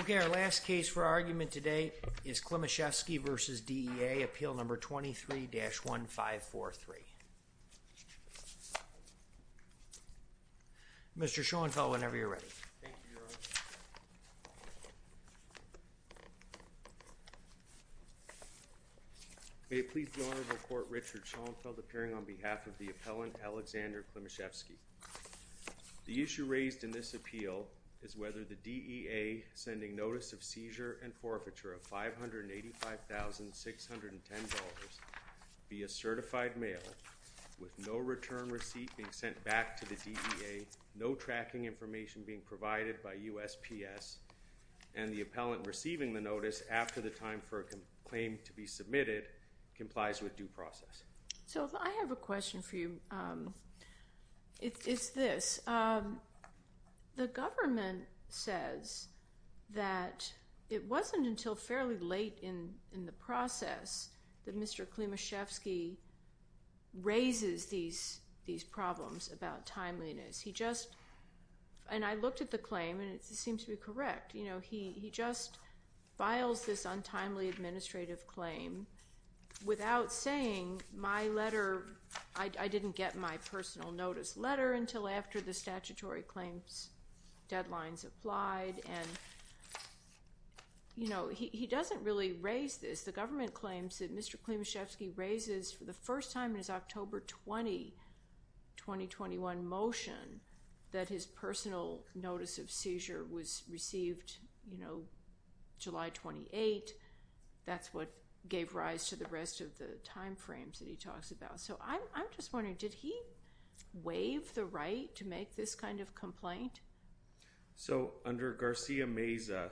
Okay, our last case for argument today is Klimashevsky v. DEA, appeal number 23-1543. Mr. Schoenfeld, whenever you're ready. May it please the honor to report Richard Schoenfeld appearing on behalf of the appellant Alexander Klimashevsky. The issue raised in this appeal is whether the DEA sending notice of seizure and forfeiture of $585,610 via certified mail with no return receipt being sent back to the DEA, no tracking information being provided by USPS, and the appellant receiving the notice after the time for a claim to be submitted complies with due process. So if I have a question for you, it's this. The government says that it wasn't until fairly late in in the process that Mr. Klimashevsky raises these these problems about timeliness. He just, and I looked at the claim, and it seems to be correct, you know, he he just files this untimely administrative claim without saying my letter, I didn't get my personal notice letter until after the statutory claims deadlines applied and you know, he doesn't really raise this. The government claims that Mr. Klimashevsky raises for the first time in his October 20, 2021 motion that his personal notice of seizure was received, you know, July 28. That's what gave rise to the rest of the time frames that he talks about. So I'm just wondering, did he waive the right to make this kind of complaint? So under Garcia Meza,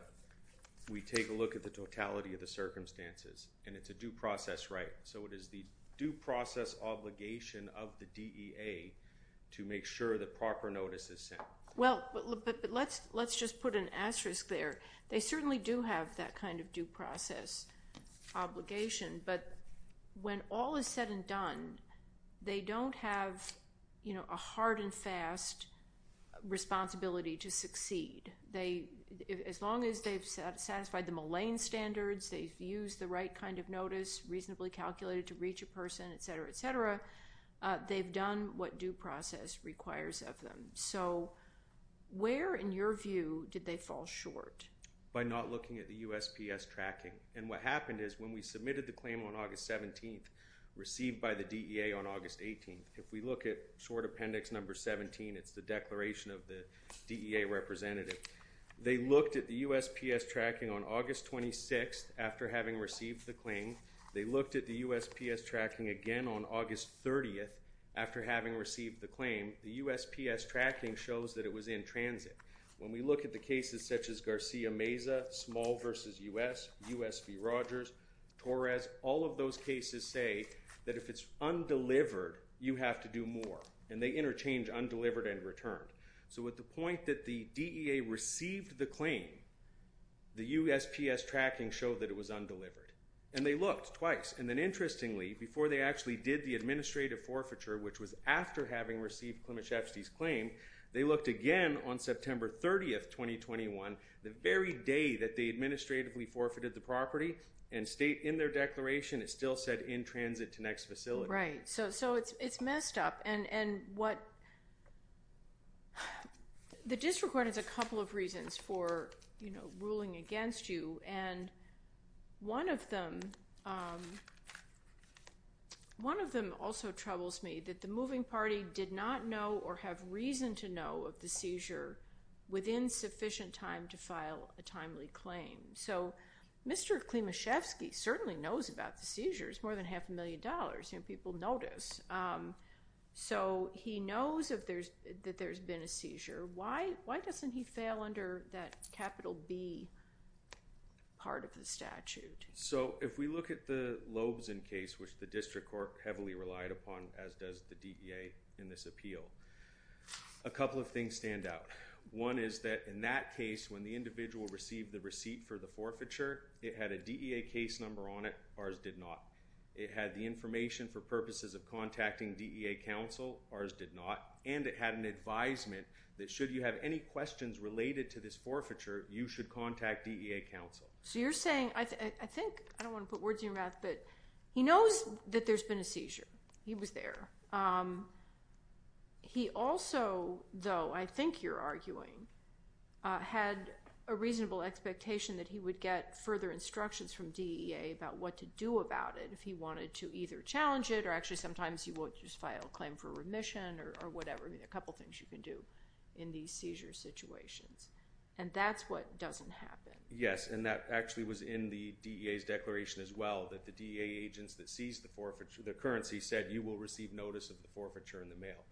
we take a look at the totality of the circumstances, and it's a due process right? So it is the due process obligation of the DEA to make sure that proper notice is sent. Well, but let's let's just put an asterisk there. They certainly do have that kind of due process obligation, but when all is said and done, they don't have, you know, a hard and fast responsibility to succeed. They, as long as they've satisfied the Moline standards, they've used the right kind of notice, reasonably calculated to reach a person, etc, etc, they've done what due process requires of them. So where, in your view, did they fall short? By not looking at the USPS tracking. And what happened is when we submitted the claim on August 17th, received by the DEA on August 18th, if we look at short appendix number 17, it's the declaration of the DEA representative. They looked at the USPS tracking on August 26th, after having received the claim. They looked at the USPS tracking again on August 30th, after having received the claim. The USPS tracking shows that it was in transit. When we look at the cases such as Garcia Meza, Small v. US, US v. Rogers, Torres, all of those cases say that if it's undelivered, you have to do more, and they interchange undelivered and returned. So at the point that the DEA received the claim, the USPS tracking showed that it was undelivered. And they looked twice, and then interestingly, before they actually did the undelivered claim, which was after having received Klimaszewski's claim, they looked again on September 30th, 2021, the very day that they administratively forfeited the property, and state in their declaration, it still said in transit to next facility. Right, so it's messed up, and what the district court has a couple of reasons for, you know, ruling against you, and one of them, one of them also troubles me, that the moving party did not know or have reason to know of the seizure within sufficient time to file a timely claim. So Mr. Klimaszewski certainly knows about the seizures, more than half a million dollars, you know, people notice. So he knows that there's been a seizure. Why doesn't he fail under that capital B part of the statute? So if we look at the Loebsen case, which the district court heavily relied upon, as does the DEA in this appeal, a couple of things stand out. One is that in that case, when the individual received the receipt for the forfeiture, it had a DEA case number on it. Ours did not. It had the information for purposes of contacting DEA counsel. Ours did not. And it had an advisement that should you have any questions related to this forfeiture, you should contact DEA counsel. So you're saying, I think, I don't want to put words in your mouth, but he knows that there's been a seizure. He was there. He also, though, I think you're arguing, had a reasonable expectation that he would get further instructions from DEA about what to do about it if he wanted to either challenge it or actually sometimes you won't just file a claim for remission or whatever, a couple things you can do in these seizure situations. And that's what doesn't happen. Yes. And that actually was in the DEA's declaration as well, that the DEA agents that seized the forfeiture, the currency, said you will receive notice of the forfeiture in the mail.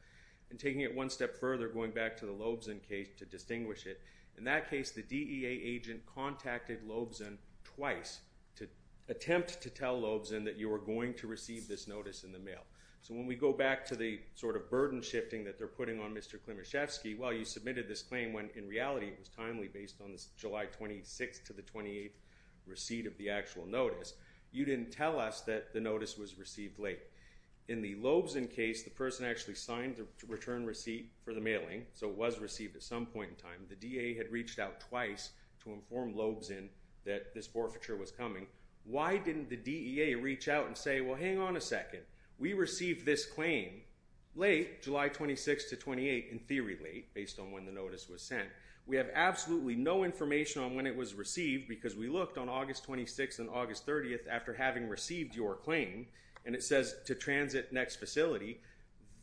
And taking it one step further, going back to the Loebsen case to distinguish it, in that case, the DEA agent contacted Loebsen twice to attempt to tell Loebsen that you were going to receive this notice in the mail. So when we go back to the sort of burden shifting that they're putting on Mr. Klimaszewski, well, you submitted this claim when in reality it was timely based on this July 26th to the 28th receipt of the actual notice. You didn't tell us that the notice was received late. In the Loebsen case, the person actually signed the return receipt for the mailing, so it was received at some point in time. The DEA had reached out twice to inform Loebsen that this forfeiture was coming. Why didn't the DEA reach out and say, well, hang on a second, we received this claim late, July 26th to 28th, in theory late, based on when the notice was sent. We have absolutely no information on when it was received because we looked on August 26th and August 30th after having received your claim, and it says to transit next facility.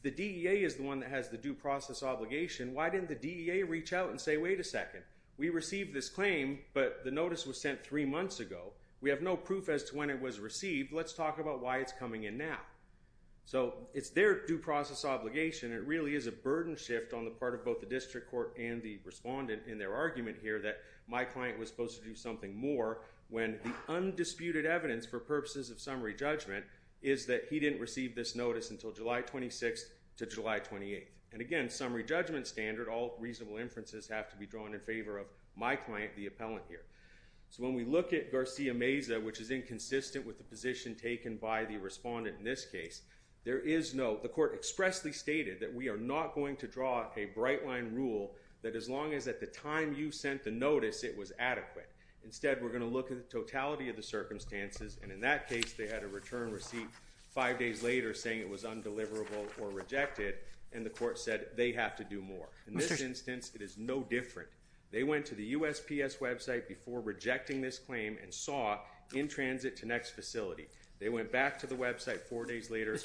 The DEA is the one that has the due process obligation. Why didn't the DEA reach out and say, wait a second, we received this claim, but the notice was sent three months ago. We have no proof as to when it was received. Let's talk about why it's coming in now. So it's their due process obligation. It really is a burden shift on the part of both the district court and the respondent in their argument here that my client was supposed to do something more when the undisputed evidence for purposes of summary judgment is that he didn't receive this notice until July 26th to July 28th. And again, summary judgment standard, all reasonable inferences have to be drawn in favor of my client, the appellant here. So when we look at Garcia Meza, which is inconsistent with the position taken by the respondent in this case, there is no, the court expressly stated that we are not going to draw a bright line rule that as long as at the time you sent the notice, it was adequate. Instead, we're going to look at the totality of the circumstances. And in that case, they had a return receipt five days later saying it was undeliverable or rejected. And the court said they have to do more. In this instance, it is no different. They went to the USPS website before rejecting this claim and saw in transit to next facility. They went back to the website four days later.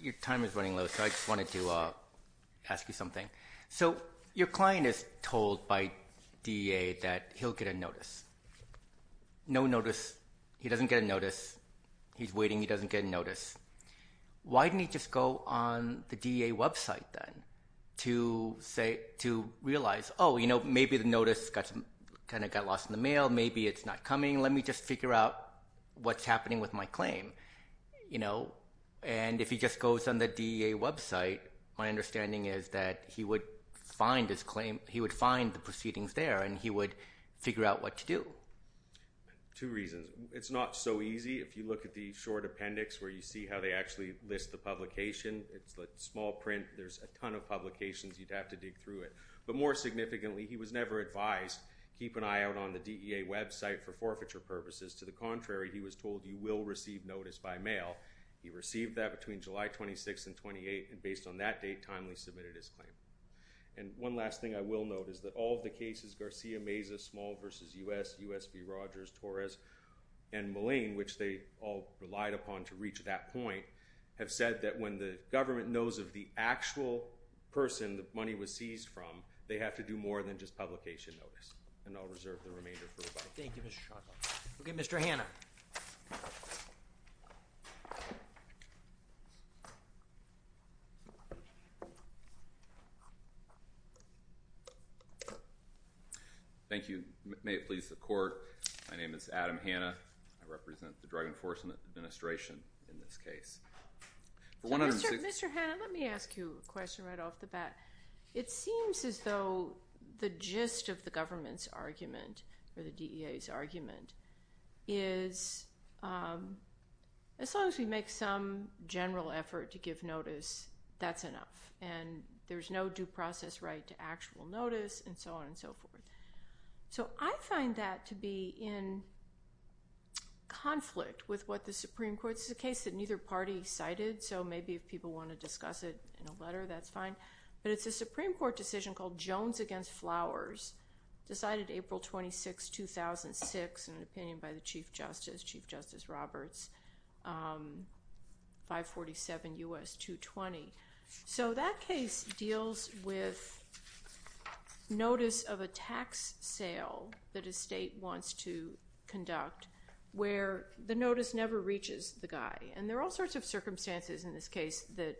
Your time is running low, so I just wanted to ask you something. So your client is told by DEA that he'll get a notice. No notice. He doesn't get a notice. He's waiting. He doesn't get notice. Why didn't he just go on the DEA website then to say, to realize, oh, you know, maybe the notice kind of got lost in the mail. Maybe it's not coming. Let me just figure out what's happening with my claim. You know, and if he just goes on the DEA website, my understanding is that he would find his claim, he would find the proceedings there and he would figure out what to do. Two reasons. It's not so easy. If you look at the short appendix where you see how they actually list the publication, it's like small print. There's a ton of publications. You'd have to dig through it. But more significantly, he was never advised. Keep an eye out on the DEA website for forfeiture purposes. To the contrary, he was told he will receive notice by mail. He received that between July 26 and 28. And based on that date, timely submitted his claim. And one last thing I will note is that all of the cases, Garcia Meza, small versus U.S. U.S. B. Rogers, Torres and Moline, which they all relied upon to reach that point, have said that when the government knows of the actual person the money was seized from, they have to do more than just publication notice. And I'll reserve the remainder. Thank you, Mr. OK, Mr. Hannah. Thank you. May it please the court. My name is Adam Hannah. I represent the Drug Enforcement Administration in this case. Mr. Hannah, let me ask you a question right off the bat. It seems as though the gist of the government's argument or the DEA's argument is as long as we make some general effort to give notice, that's enough. And there's no due process right to actual notice and so on and so forth. So I find that to be in conflict with what the Supreme Court's the case that neither party cited. So maybe if people want to discuss it in a letter, that's fine. But it's a Supreme Court decision called Jones against Flowers decided April 26, 2006, in an opinion by the chief justice, Chief Justice Roberts, 547 U.S. 220. So that case deals with notice of a tax sale that a state wants to conduct where the notice never reaches the guy. And there are all sorts of circumstances in this case that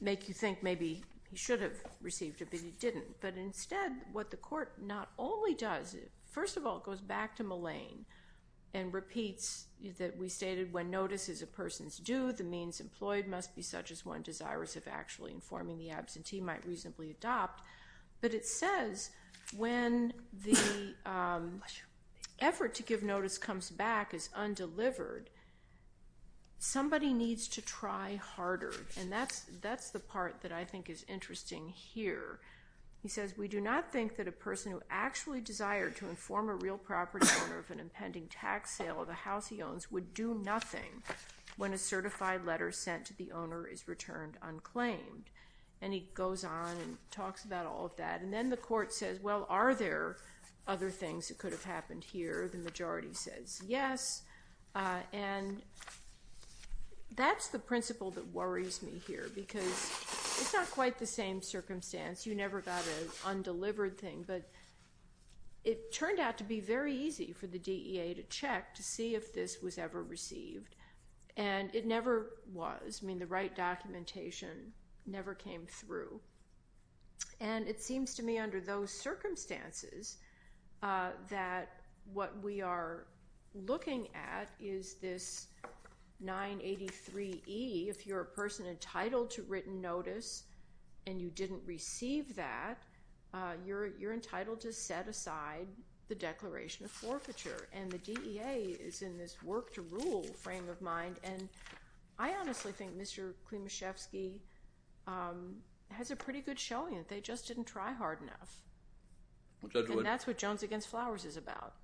make you think maybe he should have received it, but he didn't. But instead, what the court not only does, first of all, it goes back to Mullane and repeats that we stated when notice is a person's due, the means employed must be such as one desirous of actually informing the absentee might reasonably adopt. But it says when the effort to give notice comes back as undelivered, somebody needs to try harder. And that's the part that I think is interesting here. He says, we do not think that a person who actually desire to inform a real property owner of an impending tax sale of a house he owns would do nothing when a certified letter sent to the owner is returned unclaimed. And he goes on and talks about all of that. And then the court says, well, are there other things that could have happened here? The majority says yes. And that's the principle that worries me here, because it's not quite the same circumstance. You never got an undelivered thing. But it turned out to be very easy for the DEA to check to see if this was ever received. And it never was. I mean, the right documentation never came through. And it seems to me under those circumstances that what we are looking at is this 983E. If you're a person entitled to written notice and you didn't receive that, you're entitled to set aside the declaration of forfeiture. And the DEA is in this work to rule frame of mind. And I honestly think Mr. Klimashevsky has a pretty good showing that they just didn't try hard enough. And that's what Jones against Flowers is about.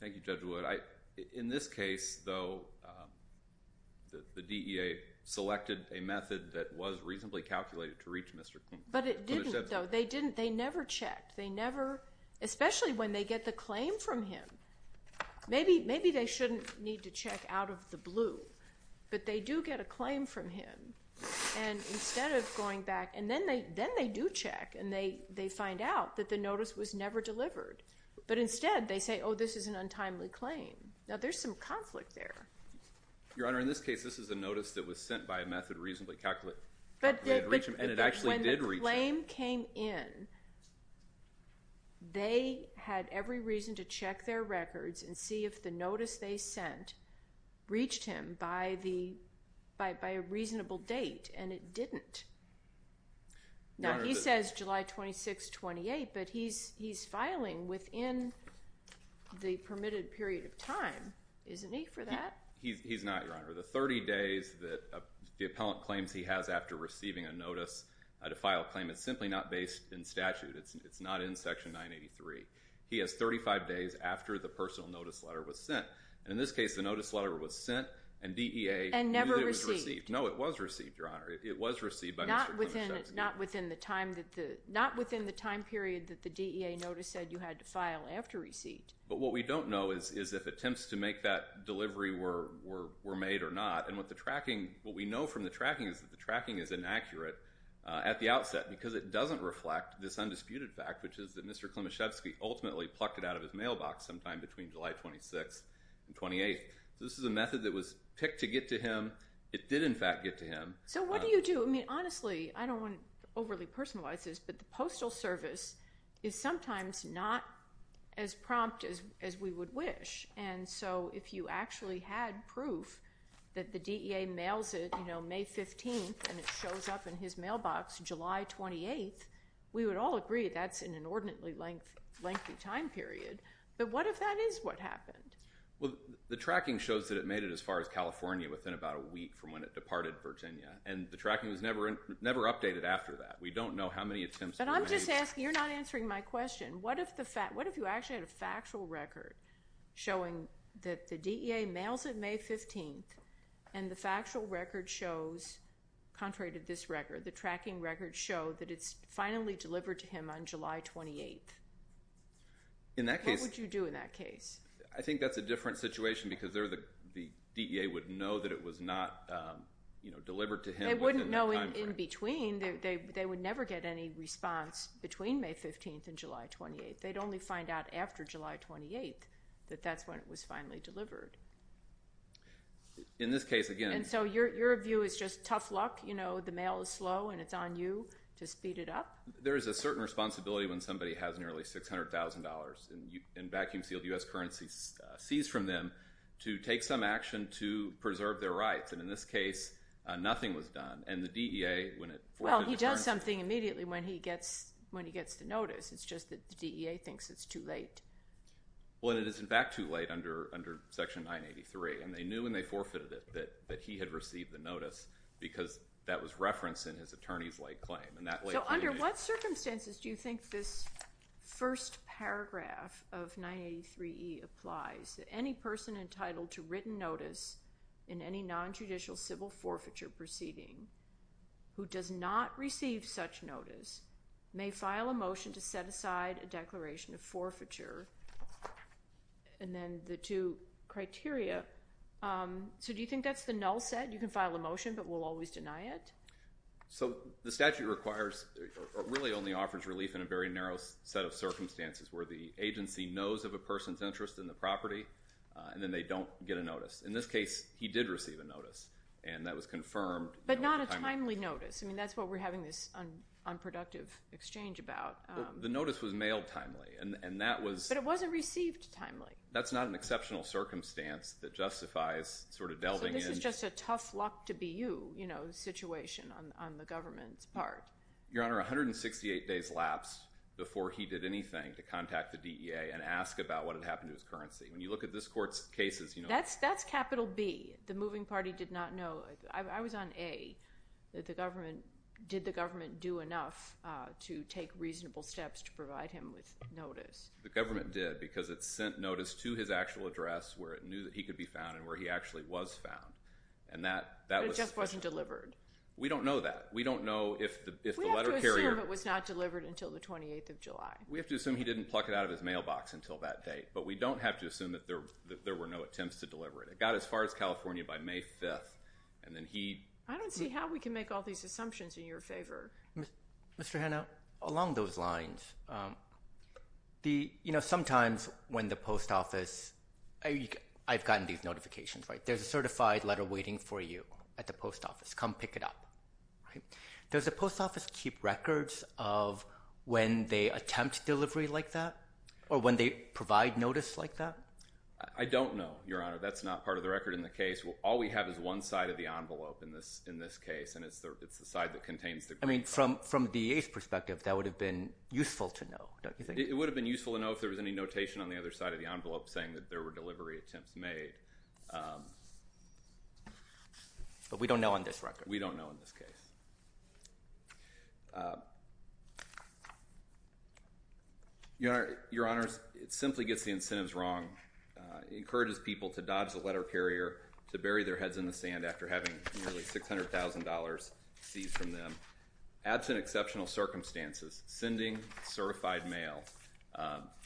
Thank you, Judge Wood. In this case, though, the DEA selected a method that was reasonably calculated to reach Mr. Klimashevsky. But it didn't, though. They didn't. They never checked. They never, especially when they get the claim from him. Maybe they shouldn't need to check out of the blue. But they do get a claim from him. And instead of going back, and then they do check. And they find out that the notice was never delivered. But instead, they say, oh, this is an untimely claim. Now, there's some conflict there. Your Honor, in this case, this is a notice that was sent by a method reasonably calculated to reach him. And it actually did reach him. When the claim came in, they had every reason to check their records and see if the notice they sent reached him by a reasonable date. And it didn't. Now, he says July 26, 28. But he's filing within the permitted period of time, isn't he, for that? He's not, Your Honor. The 30 days that the appellant claims he has after receiving a notice to file a claim, it's simply not based in statute. It's not in Section 983. He has 35 days after the personal notice letter was sent. And in this case, the notice letter was sent. And DEA knew that it was received. No, it was received, Your Honor. It was received by Mr. Clements. Not within the time period that the DEA notice said you had to file after receipt. But what we don't know is if attempts to make that delivery were made or not. And what we know from the tracking is that the tracking is inaccurate at the outset because it doesn't reflect this undisputed fact, which is that Mr. Klimaszewski ultimately plucked it out of his mailbox sometime between July 26 and 28. This is a method that was picked to get to him. It did, in fact, get to him. So what do you do? I mean, honestly, I don't want to overly personalize this, but the Postal Service is sometimes not as prompt as we would wish. And so if you actually had proof that the DEA mails it May 15 and it shows up in his mailbox July 28, we would all agree that's an inordinately lengthy time period. But what if that is what happened? Well, the tracking shows that it made it as far as California within about a week from when it departed Virginia. And the tracking was never updated after that. We don't know how many attempts were made. But I'm just asking, you're not answering my question. What if you actually had a factual record showing that the DEA mails it May 15 and the factual record shows, contrary to this record, the tracking record showed that it's finally delivered to him on July 28? What would you do in that case? I think that's a different situation because the DEA would know that it was not delivered to him within that time frame. They wouldn't know in between. They would never get any response between May 15 and July 28. They'd only find out after July 28 that that's when it was finally delivered. In this case, again— And so your view is just tough luck, you know, the mail is slow and it's on you to speed it up? There is a certain responsibility when somebody has nearly $600,000 in vacuum sealed U.S. currency seized from them to take some action to preserve their rights. And in this case, nothing was done. And the DEA, when it— Well, he does something immediately when he gets the notice. It's just that the DEA thinks it's too late. Well, and it is, in fact, too late under Section 983. And they knew when they forfeited it that he had received the notice because that was referenced in his attorney's late claim. So under what circumstances do you think this first paragraph of 983E applies? That any person entitled to written notice in any non-judicial civil forfeiture proceeding who does not receive such notice may file a motion to set aside a declaration of forfeiture. And then the two criteria— So do you think that's the null set? You can file a motion, but we'll always deny it? So the statute requires—or really only offers relief in a very narrow set of circumstances where the agency knows of a person's interest in the property, and then they don't get a notice. In this case, he did receive a notice, and that was confirmed— But not a timely notice. I mean, that's what we're having this unproductive exchange about. The notice was mailed timely, and that was— But it wasn't received timely. That's not an exceptional circumstance that justifies sort of delving in— Your Honor, 168 days lapsed before he did anything to contact the DEA and ask about what had happened to his currency. When you look at this Court's cases, you know— That's capital B. The moving party did not know. I was on A, that the government— Did the government do enough to take reasonable steps to provide him with notice? The government did, because it sent notice to his actual address where it knew that he could be found and where he actually was found, and that was— But it just wasn't delivered. We don't know that. We don't know if the letter carrier— We have to assume it was not delivered until the 28th of July. We have to assume he didn't pluck it out of his mailbox until that date, but we don't have to assume that there were no attempts to deliver it. It got as far as California by May 5th, and then he— I don't see how we can make all these assumptions in your favor. Mr. Hanna, along those lines, sometimes when the post office— I've gotten these notifications, right? At the post office, come pick it up. Does the post office keep records of when they attempt delivery like that or when they provide notice like that? I don't know, Your Honor. That's not part of the record in the case. All we have is one side of the envelope in this case, and it's the side that contains the— I mean, from the DA's perspective, that would have been useful to know, don't you think? It would have been useful to know if there was any notation on the other side of the envelope saying that there were delivery attempts made. But we don't know on this record. We don't know in this case. Your Honor, it simply gets the incentives wrong. It encourages people to dodge the letter carrier, to bury their heads in the sand after having nearly $600,000 seized from them. Absent exceptional circumstances, sending certified mail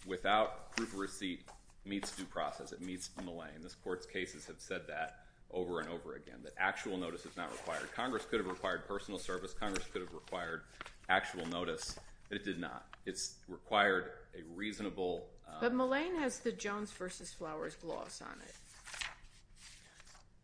without proof of receipt meets due process. It meets Millay, and this Court's cases have said that over and over again, that actual notice is not required. Congress could have required personal service. Congress could have required actual notice, but it did not. It's required a reasonable— But Millay has the Jones v. Flowers gloss on it.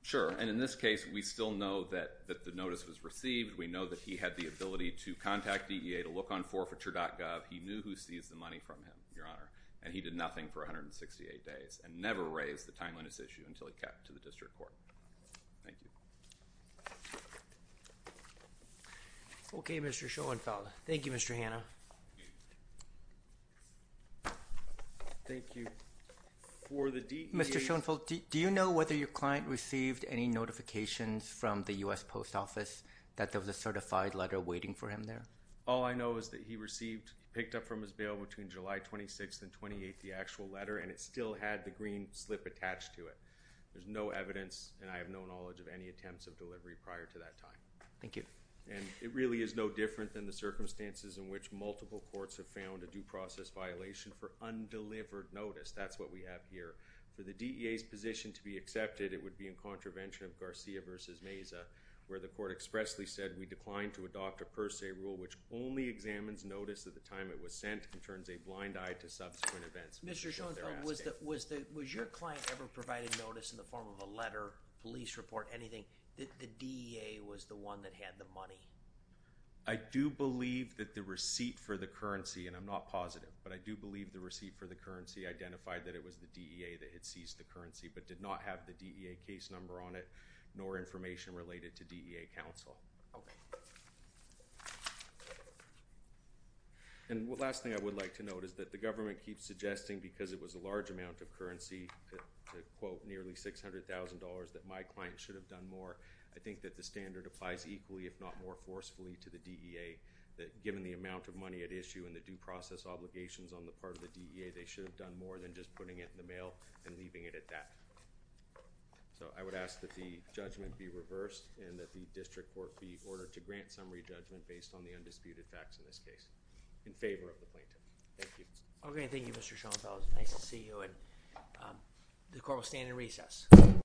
Sure, and in this case, we still know that the notice was received. We know that he had the ability to contact DEA to look on forfeiture.gov. He knew who seized the money from him, Your Honor, and he did nothing for 168 days and never raised the timeliness issue until he kept to the district court. Thank you. Okay, Mr. Schoenfeld. Thank you, Mr. Hanna. Thank you. For the DEA— Mr. Schoenfeld, do you know whether your client received any notifications from the U.S. Post Office that there was a certified letter waiting for him there? All I know is that he received, picked up from his bail between July 26th and 28th, the actual letter, and it still had the green slip attached to it. There's no evidence, and I have no knowledge of any attempts of delivery prior to that time. Thank you. And it really is no different than the circumstances in which multiple courts have found a due process violation for undelivered notice. That's what we have here. For the DEA's position to be accepted, it would be in contravention of Garcia v. Meza, where the court expressly said we declined to adopt a per se rule which only examines notice at the time it was sent and turns a blind eye to subsequent events. Mr. Schoenfeld, was your client ever provided notice in the form of a letter, police report, anything, that the DEA was the one that had the money? I do believe that the receipt for the currency— and I'm not positive, but I do believe the receipt for the currency identified that it was the DEA that had seized the currency but did not have the DEA case number on it nor information related to DEA counsel. Okay. And the last thing I would like to note is that the government keeps suggesting because it was a large amount of currency, to quote, nearly $600,000, that my client should have done more. I think that the standard applies equally, if not more forcefully, to the DEA, that given the amount of money at issue and the due process obligations on the part of the DEA, they should have done more than just putting it in the mail and leaving it at that. So I would ask that the judgment be reversed and that the district court be ordered to grant summary judgment based on the undisputed facts in this case in favor of the plaintiff. Thank you. Okay. Thank you, Mr. Schoenfeld. Nice to see you, and the court will stand in recess.